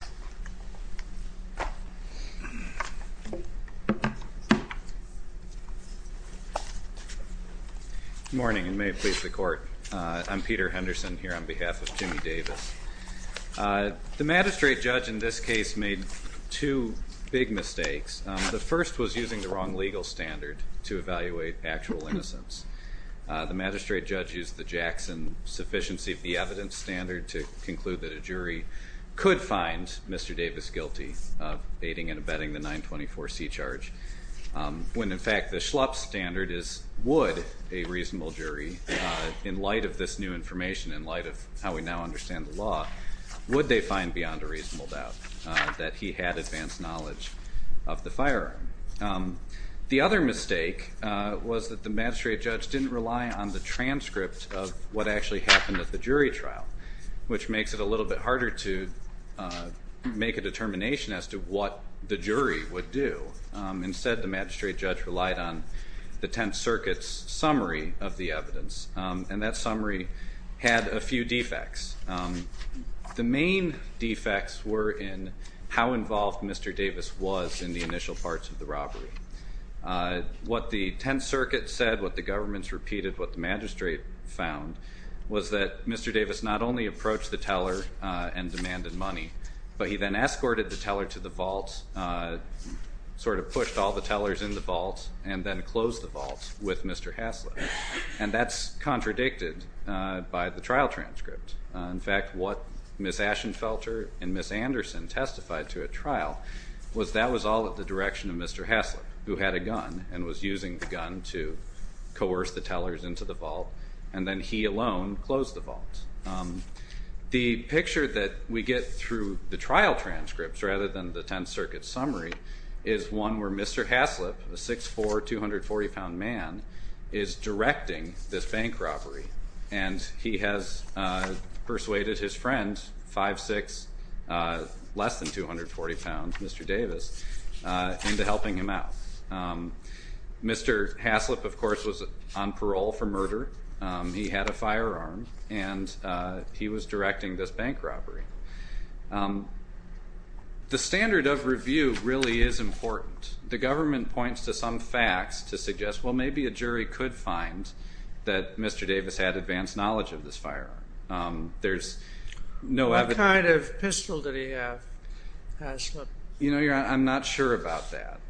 Good morning and may it please the Court, I'm Peter Henderson here on behalf of Jimmy Davis. The magistrate judge in this case made two big mistakes. The first was using the wrong legal standard to evaluate actual innocence. The magistrate judge used the Jackson sufficiency of the evidence standard to conclude that the jury could find Mr. Davis guilty of aiding and abetting the 924c charge, when in fact the schlup standard is would a reasonable jury, in light of this new information, in light of how we now understand the law, would they find beyond a reasonable doubt that he had advanced knowledge of the firearm. The other mistake was that the magistrate judge didn't rely on the transcript of what actually happened at the jury trial, which makes it a little bit harder to make a determination as to what the jury would do. Instead, the magistrate judge relied on the Tenth Circuit's summary of the evidence. And that summary had a few defects. The main defects were in how involved Mr. Davis was in the initial parts of the robbery. What the Tenth Circuit said, what the governments repeated, what the magistrate found, was that Mr. Davis not only approached the teller and demanded money, but he then escorted the teller to the vault, sort of pushed all the tellers in the vault, and then closed the vault with Mr. Hassler. And that's contradicted by the trial transcript. In fact, what Ms. Ashenfelter and Ms. Anderson testified to at trial was that was all at the direction of Mr. Hassler, who had a gun and was using the gun to coerce the tellers into the vault, and then he alone closed the vault. The picture that we get through the trial transcripts rather than the Tenth Circuit's summary is one where Mr. Hassler, a 6'4", 240-pound man, is directing this bank robbery. And he has persuaded his friend, 5'6", less than 240 pounds, Mr. Davis, into helping him out. Mr. Hassler, of course, was on parole for murder. He had a firearm, and he was directing this bank robbery. The standard of review really is important. The government points to some facts to suggest, well, maybe a jury could find that Mr. Davis had advanced knowledge of this firearm. There's no evidence. What kind of pistol did he have, Hassler? You know, Your Honor, I'm not sure about that.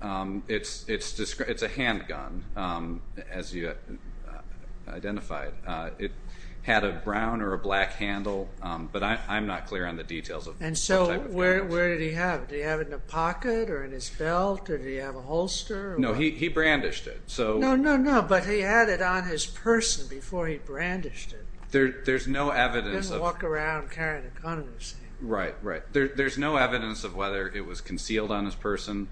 It's a handgun, as you identified. It had a brown or a black handle, but I'm not clear on the details of what type of handgun. And so where did he have it? Did he have it in a pocket or in his belt, or did he have a holster? No, he brandished it. No, no, no, but he had it on his person before he brandished it. There's no evidence of... He didn't walk around carrying a gun, you see. Right, right. There's no evidence of whether it was concealed on his person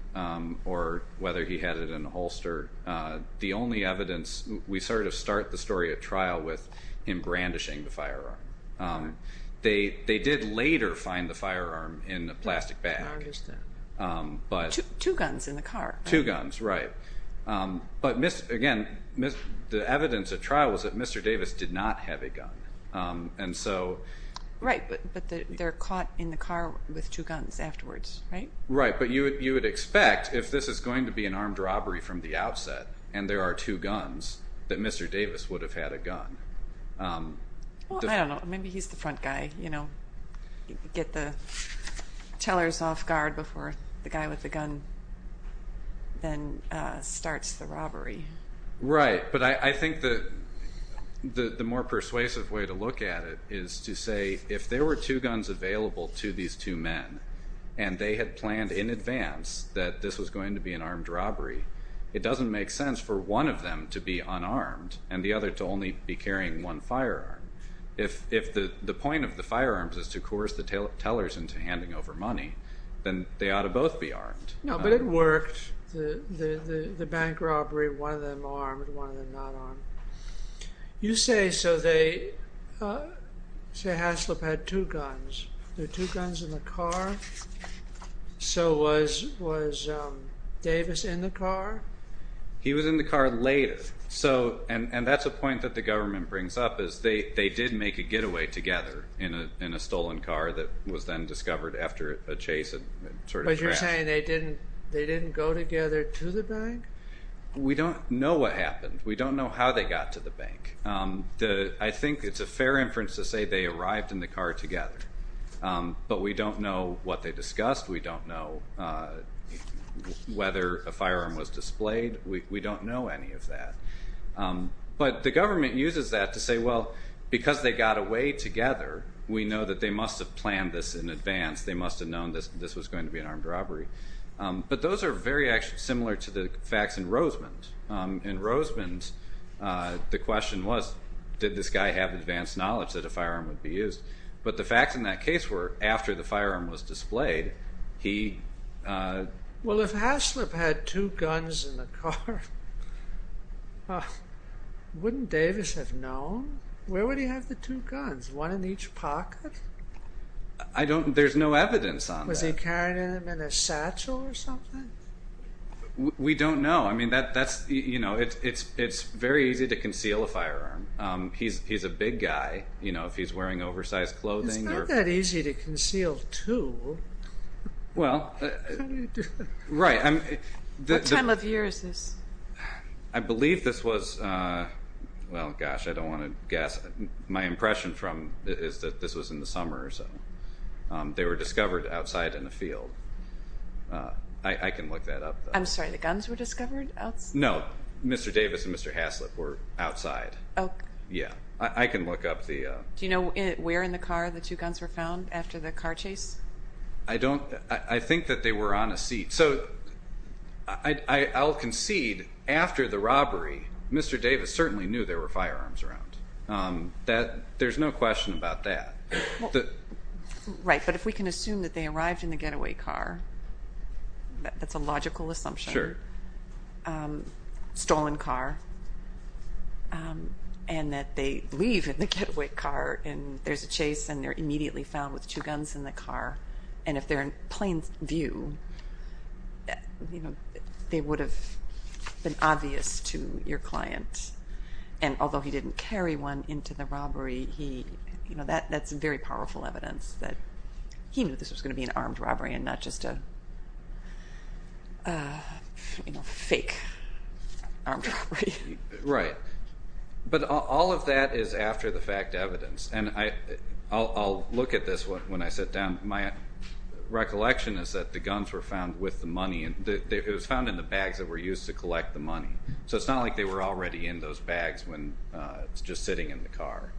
or whether he had it in a holster. The only evidence, we sort of start the story at trial with him brandishing the firearm. They did later find the firearm in a plastic bag. I understand. Two guns in the car. Two guns, right. But again, the evidence at trial was that Mr. Davis did not have a gun. And so... Right, but they're caught in the car with two guns afterwards, right? Right, but you would expect, if this is going to be an armed robbery from the outset and there are two guns, that Mr. Davis would have had a gun. Well, I don't know, maybe he's the front guy, you know, get the tellers off guard before the guy with the gun then starts the robbery. Right, but I think that the more persuasive way to look at it is to say, if there were two guns available to these two men and they had planned in advance that this was going to be an armed robbery, it doesn't make sense for one of them to be unarmed and the other to only be carrying one firearm. If the point of the firearms is to coerce the tellers into handing over money, then they ought to both be armed. No, but it worked, the bank robbery, one of them armed, one of them not armed. You say, so they, say Haslip had two guns, there were two guns in the car, so was Davis in the car? He was in the car later, and that's a point that the government brings up, is they did make a getaway together in a stolen car that was then discovered after a chase and sort of crashed. But you're saying they didn't go together to the bank? We don't know what happened, we don't know how they got to the bank. I think it's a fair inference to say they arrived in the car together, but we don't know what they discussed, we don't know whether a firearm was displayed, we don't know any of that. But the government uses that to say, well, because they got away together, we know that they must have planned this in advance, they must have known this was going to be an armed robbery. But those are very similar to the facts in Rosemond. In Rosemond, the question was, did this guy have advanced knowledge that a firearm would be used? But the facts in that case were, after the firearm was displayed, he... Well, if Haslip had two guns in the car, wouldn't Davis have known? Where would he have the two guns, one in each pocket? I don't... There's no evidence on that. Was he carrying them in a satchel or something? We don't know. I mean, that's... You know, it's very easy to conceal a firearm. He's a big guy, you know, if he's wearing oversized clothing or... It's not that easy to conceal two. Well... Right. What time of year is this? I believe this was, well, gosh, I don't want to guess. My impression from it is that this was in the summer or so. They were discovered outside in the field. I can look that up. I'm sorry, the guns were discovered outside? No. Mr. Davis and Mr. Haslip were outside. Oh. Yeah. I can look up the... Do you know where in the car the two guns were found after the car chase? I don't... I think that they were on a seat. So I'll concede, after the robbery, Mr. Davis certainly knew there were firearms around. There's no question about that. Right. But if we can assume that they arrived in the getaway car, that's a logical assumption. Sure. Stolen car. And that they leave in the getaway car and there's a chase and they're immediately found with two guns in the car. And if they're in plain view, they would have been obvious to your client. And although he didn't carry one into the robbery, that's very powerful evidence that he knew this was going to be an armed robbery and not just a fake armed robbery. Right. But all of that is after the fact evidence. And I'll look at this when I sit down. My recollection is that the guns were found with the money. It was found in the bags that were used to collect the money. So it's not like they were already in those bags when it's just sitting in the car.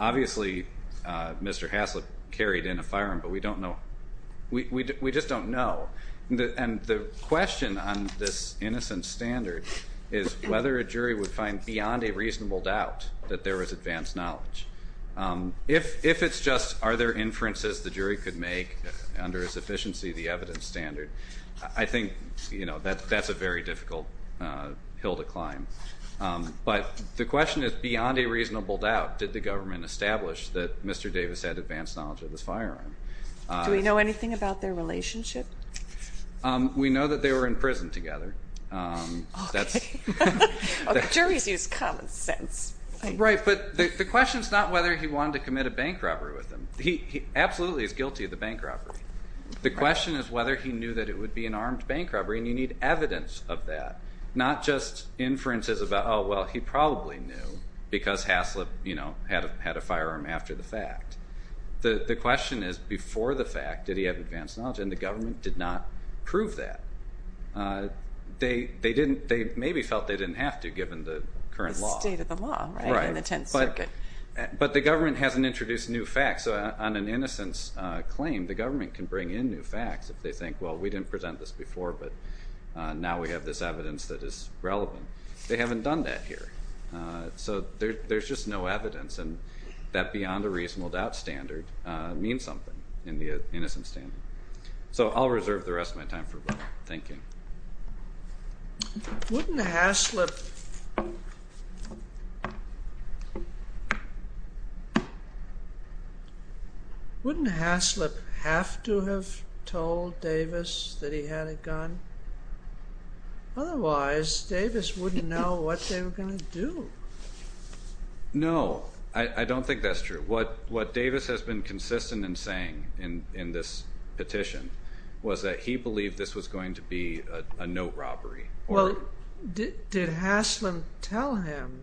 Obviously Mr. Haslip carried in a firearm, but we don't know. We just don't know. And the question on this innocent standard is whether a jury would find beyond a reasonable doubt that there was advanced knowledge. If it's just are there inferences the jury could make under his efficiency, the evidence standard, I think that's a very difficult hill to climb. But the question is beyond a reasonable doubt, did the government establish that Mr. Davis had advanced knowledge of this firearm? Do we know anything about their relationship? We know that they were in prison together. Okay. Okay. Juries use common sense. Right. But the question is not whether he wanted to commit a bank robbery with them. He absolutely is guilty of the bank robbery. The question is whether he knew that it would be an armed bank robbery, and you need evidence of that. Not just inferences about, oh, well, he probably knew because Haslip had a firearm after the fact. The question is before the fact, did he have advanced knowledge? And the government did not prove that. They maybe felt they didn't have to given the current law. The state of the law in the Tenth Circuit. Right. But the government hasn't introduced new facts. On an innocence claim, the government can bring in new facts if they think, well, we didn't present this before, but now we have this evidence that is relevant. They haven't done that here. So there's just no evidence, and that beyond a reasonable doubt standard means something in the innocence standard. So I'll reserve the rest of my time for thinking. Wouldn't Haslip have to have told Davis that he had a gun? Otherwise, Davis wouldn't know what they were going to do. No. I don't think that's true. What Davis has been consistent in saying in this petition was that he believed this was going to be a note robbery. Well, did Haslip tell him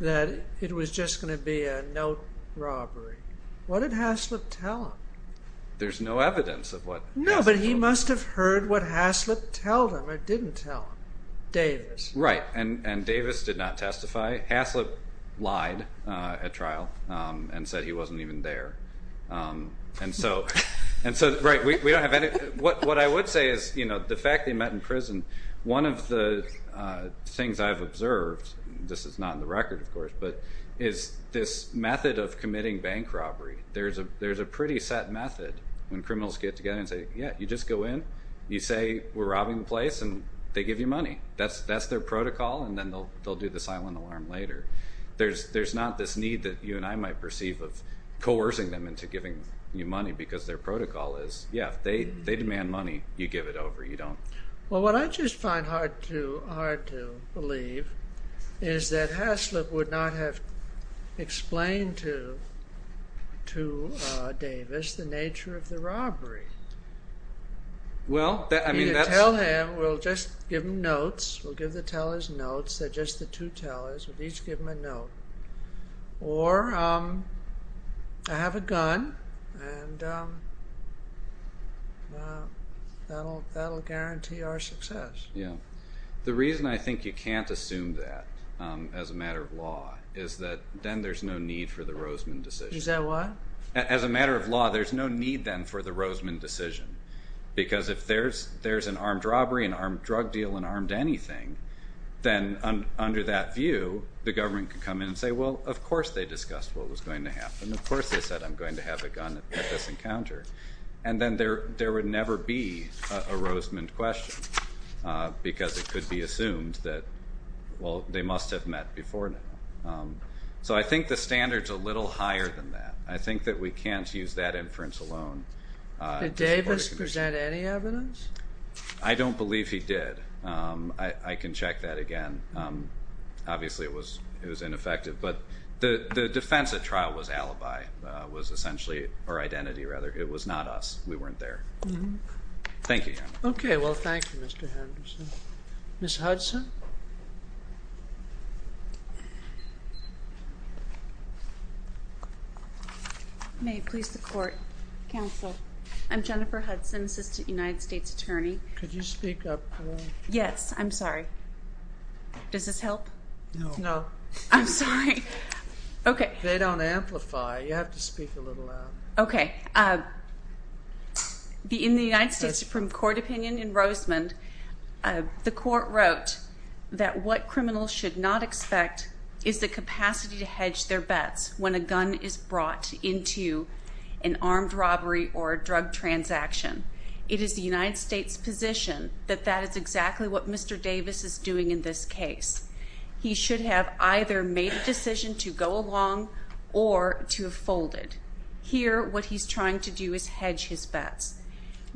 that it was just going to be a note robbery? What did Haslip tell him? There's no evidence of what Haslip told him. No, but he must have heard what Haslip told him or didn't tell him, Davis. Right. And Davis did not testify. Haslip lied at trial and said he wasn't even there. What I would say is the fact that he met in prison, one of the things I've observed, this is not in the record, of course, but is this method of committing bank robbery. There's a pretty set method when criminals get together and say, yeah, you just go in, you say we're robbing the place, and they give you money. That's their protocol, and then they'll do the silent alarm later. There's not this need that you and I might perceive of coercing them into giving you money because their protocol is, yeah, they demand money, you give it over, you don't. Well, what I just find hard to believe is that Haslip would not have explained to Davis the nature of the robbery. You tell him, we'll just give him notes. We'll give the tellers notes. They're just the two tellers. We'll each give them a note. Or I have a gun, and that'll guarantee our success. Yeah. The reason I think you can't assume that as a matter of law is that then there's no need for the Roseman decision. Is that what? As a matter of law, there's no need then for the Roseman decision, because if there's an armed robbery, an armed drug deal, an armed anything, then under that view, the government could come in and say, well, of course they discussed what was going to happen. Of course they said I'm going to have a gun at this encounter. And then there would never be a Roseman question because it could be assumed that, well, they must have met before now. So I think the standard's a little higher than that. I think that we can't use that inference alone. Did Davis present any evidence? I don't believe he did. I can check that again. Obviously it was ineffective. But the defense at trial was alibi, was essentially our identity, rather. It was not us. We weren't there. Thank you, Your Honor. Okay. Well, thank you, Mr. Henderson. Ms. Hudson? May it please the Court. Counsel. I'm Jennifer Hudson, Assistant United States Attorney. Could you speak up a little? Yes. I'm sorry. Does this help? No. No. I'm sorry. Okay. They don't amplify. You have to speak a little louder. Okay. In the United States Supreme Court opinion in Roseman, the Court wrote that what criminals should not expect is the capacity to hedge their bets when a gun is brought into an armed robbery or a drug transaction. It is the United States' position that that is exactly what Mr. Davis is doing in this case. He should have either made a decision to go along or to have folded. Here, what he's trying to do is hedge his bets.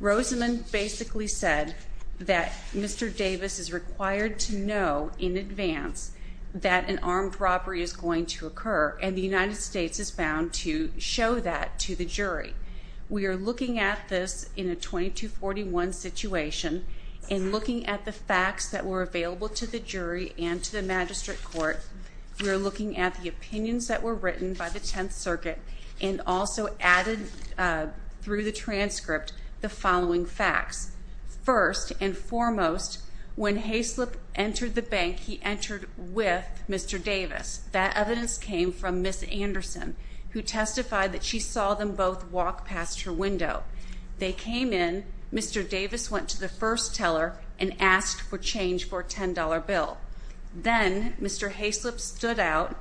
Roseman basically said that Mr. Davis is required to know in advance that an armed robbery is going to occur, and the United States is bound to show that to the jury. We are looking at this in a 2241 situation. In looking at the facts that were available to the jury and to the magistrate court, we are looking at the opinions that were written by the Tenth Circuit and also added through the transcript the following facts. First and foremost, when Haslip entered the bank, he entered with Mr. Davis. That evidence came from Ms. Anderson, who testified that she saw them both walk past her window. They came in. Mr. Davis went to the first teller and asked for change for a $10 bill. Then Mr. Haslip stood out,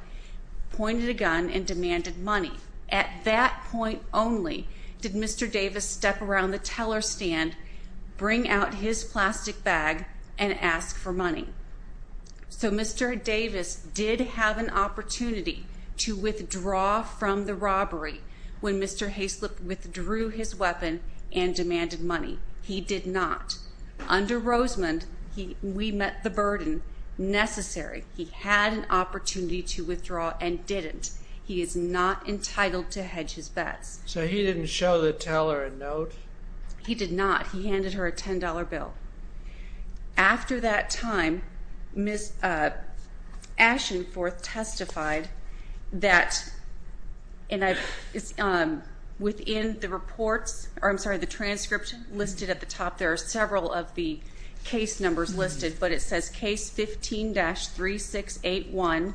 pointed a gun, and demanded money. At that point only did Mr. Davis step around the teller stand, bring out his plastic bag, and ask for money. So Mr. Davis did have an opportunity to withdraw from the robbery when Mr. Haslip withdrew his weapon and demanded money. He did not. Under Rosemond, we met the burden necessary. He had an opportunity to withdraw and didn't. He is not entitled to hedge his bets. So he didn't show the teller a note? He did not. He handed her a $10 bill. After that time, Ms. Ashenforth testified that within the transcript listed at the top there are several of the case numbers listed, but it says case 15-3681,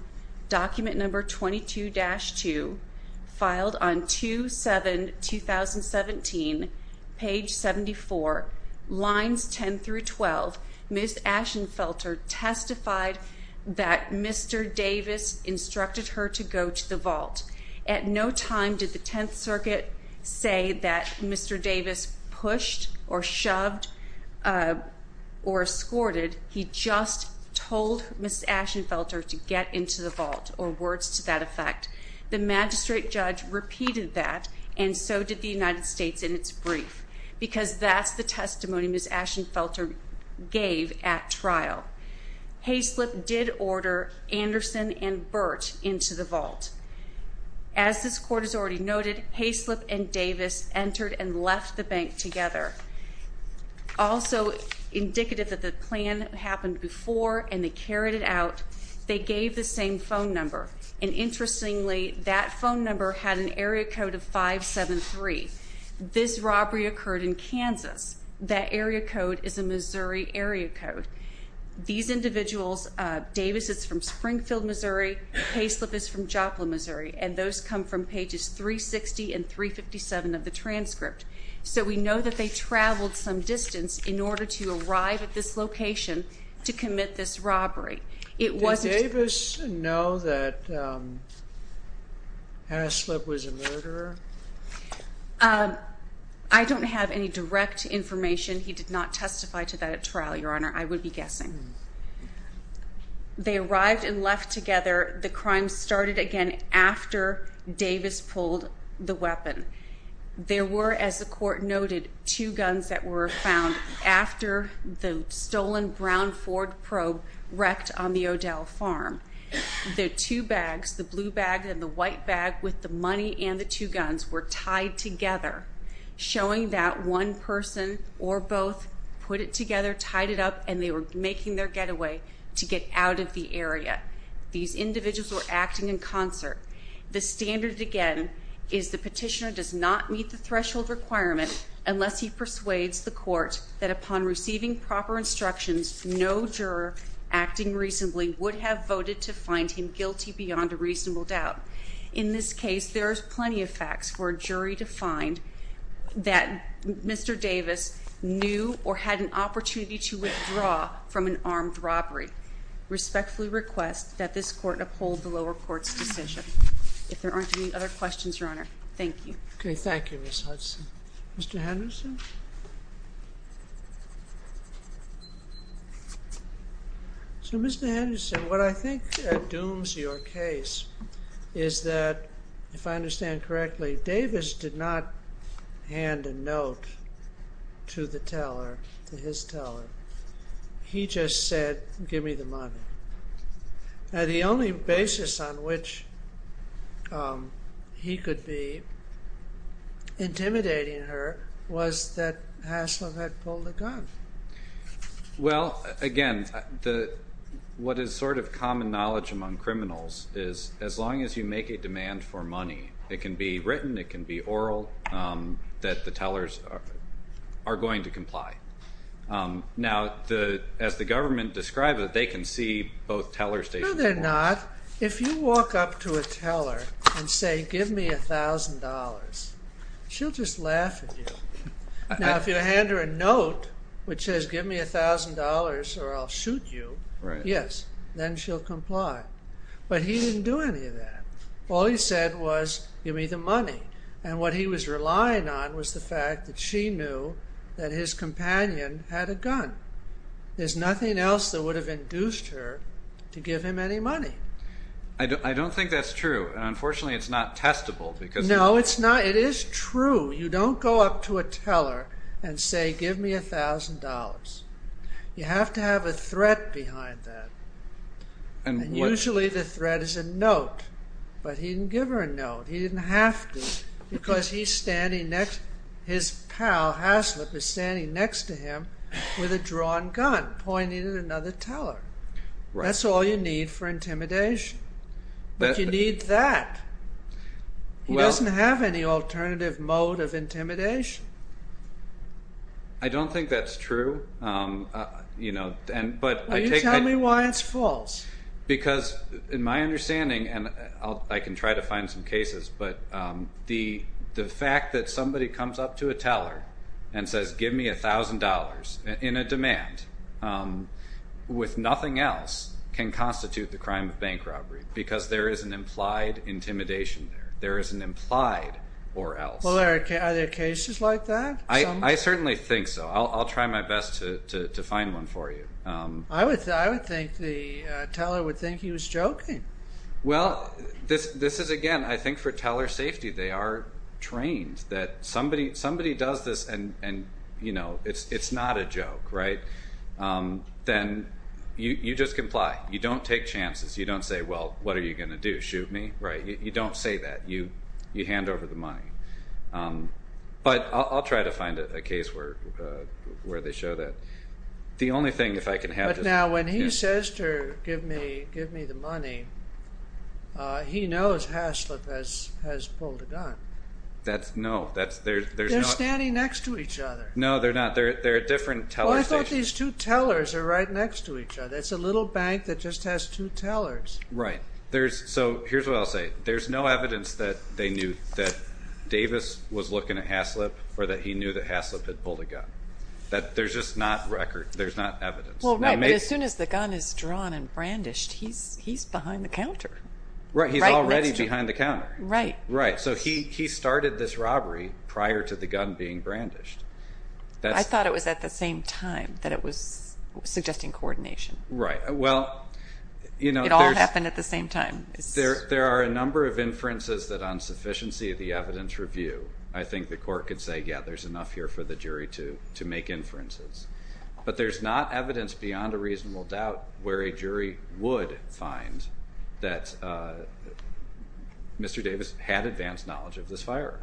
document number 22-2, filed on 2-7-2017, page 74, lines 10 through 12, Ms. Ashenforth testified that Mr. Davis instructed her to go to the vault. At no time did the Tenth Circuit say that Mr. Davis pushed or shoved or escorted. He just told Ms. Ashenforth to get into the vault, or words to that effect. The magistrate judge repeated that, and so did the United States in its brief, because that's the testimony Ms. Ashenforth gave at trial. Hayslip did order Anderson and Burt into the vault. As this court has already noted, Hayslip and Davis entered and left the bank together. Also indicative that the plan happened before and they carried it out, they gave the same phone number, and interestingly, that phone number had an area code of 573. This robbery occurred in Kansas. That area code is a Missouri area code. These individuals, Davis is from Springfield, Missouri, Hayslip is from Joplin, Missouri, and those come from pages 360 and 357 of the transcript, so we know that they traveled some distance in order to arrive at this location to commit this robbery. Did Davis know that Hayslip was a murderer? I don't have any direct information. He did not testify to that at trial, Your Honor. I would be guessing. They arrived and left together. The crime started again after Davis pulled the weapon. There were, as the court noted, two guns that were found after the stolen brown Ford probe wrecked on the O'Dell farm. The two bags, the blue bag and the white bag with the money and the two guns were tied together, showing that one person or both put it together, tied it up, and they were making their getaway to get out of the area. These individuals were acting in concert. The standard, again, is the petitioner does not meet the threshold requirement unless he persuades the court that upon receiving proper instructions, no juror acting reasonably would have voted to find him guilty beyond a reasonable doubt. In this case, there is plenty of facts for a jury to find that Mr. Davis knew or had an opportunity to withdraw from an armed robbery. I respectfully request that this court uphold the lower court's decision. If there aren't any other questions, Your Honor, thank you. Okay, thank you, Ms. Hudson. Mr. Henderson? So, Mr. Henderson, what I think dooms your case is that, if I understand correctly, Davis did not hand a note to the teller, to his teller. He just said, give me the money. Now, the only basis on which he could be intimidating her was that Haslam had pulled a gun. Well, again, what is sort of common knowledge among criminals is, as long as you make a demand for money, it can be written, it can be oral, that the tellers are going to comply. Now, as the government described it, they can see both teller stations. No, they're not. If you walk up to a teller and say, give me $1,000, she'll just laugh at you. Now, if you hand her a note which says, give me $1,000 or I'll shoot you, yes, then she'll comply. But he didn't do any of that. All he said was, give me the money. And what he was relying on was the fact that she knew that his companion had a gun. There's nothing else that would have induced her to give him any money. I don't think that's true. And unfortunately, it's not testable because... No, it's not. It is true. You don't go up to a teller and say, give me $1,000. You have to have a threat behind that. But he didn't give her a note. He didn't have to because his pal, Haslip, is standing next to him with a drawn gun pointing at another teller. That's all you need for intimidation. But you need that. He doesn't have any alternative mode of intimidation. I don't think that's true. Well, you tell me why it's false. Because in my understanding, and I can try to find some cases, but the fact that somebody comes up to a teller and says, give me $1,000 in a demand with nothing else can constitute the crime of bank robbery because there is an implied intimidation there. There is an implied or else. Are there cases like that? I certainly think so. I'll try my best to find one for you. I would think the teller would think he was joking. Well, this is, again, I think for teller safety, they are trained that somebody does this and it's not a joke. Then you just comply. You don't take chances. You don't say, well, what are you going to do, shoot me? You don't say that. You hand over the money. But I'll try to find a case where they show that. But now when he says to give me the money, he knows Haslip has pulled a gun. They're standing next to each other. No, they're not. They're at different teller stations. Well, I thought these two tellers are right next to each other. It's a little bank that just has two tellers. Right. So here's what I'll say. There's no evidence that they knew that Davis was looking at Haslip or that he knew that Haslip had pulled a gun. There's just not record. There's not evidence. Well, right. But as soon as the gun is drawn and brandished, he's behind the counter. Right. He's already behind the counter. Right. Right. So he started this robbery prior to the gun being brandished. I thought it was at the same time that it was suggesting coordination. Right. Well, you know, there's It all happened at the same time. There are a number of inferences that on sufficiency of the evidence review, I think the court could say, yeah, there's enough here for the jury to make inferences. But there's not evidence beyond a reasonable doubt where a jury would find that Mr. Davis had advanced knowledge of this firearm.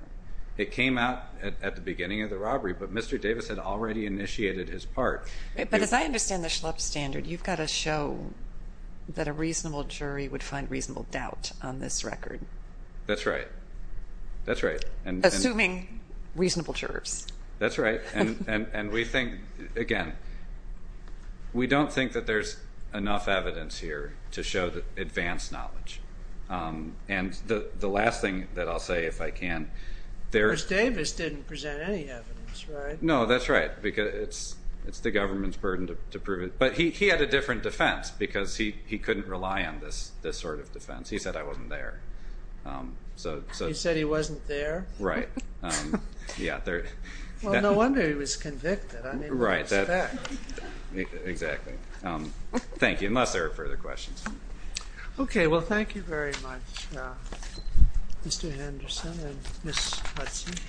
It came out at the beginning of the robbery, but Mr. Davis had already initiated his part. But as I understand the Schlepp standard, you've got to show that a reasonable jury would find reasonable doubt on this record. That's right. That's right. Assuming reasonable jurors. That's right. And we think, again, we don't think that there's enough evidence here to show that advanced knowledge. And the last thing that I'll say, if I can, there's. Mr. Davis didn't present any evidence, right? No, that's right. Because it's the government's burden to prove it. But he had a different defense because he couldn't rely on this sort of defense. He said I wasn't there. He said he wasn't there? Right. Yeah. Well, no wonder he was convicted. Right. Exactly. Thank you. Unless there are further questions. Okay. Well, thank you very much, Mr. Henderson and Ms. Hudson.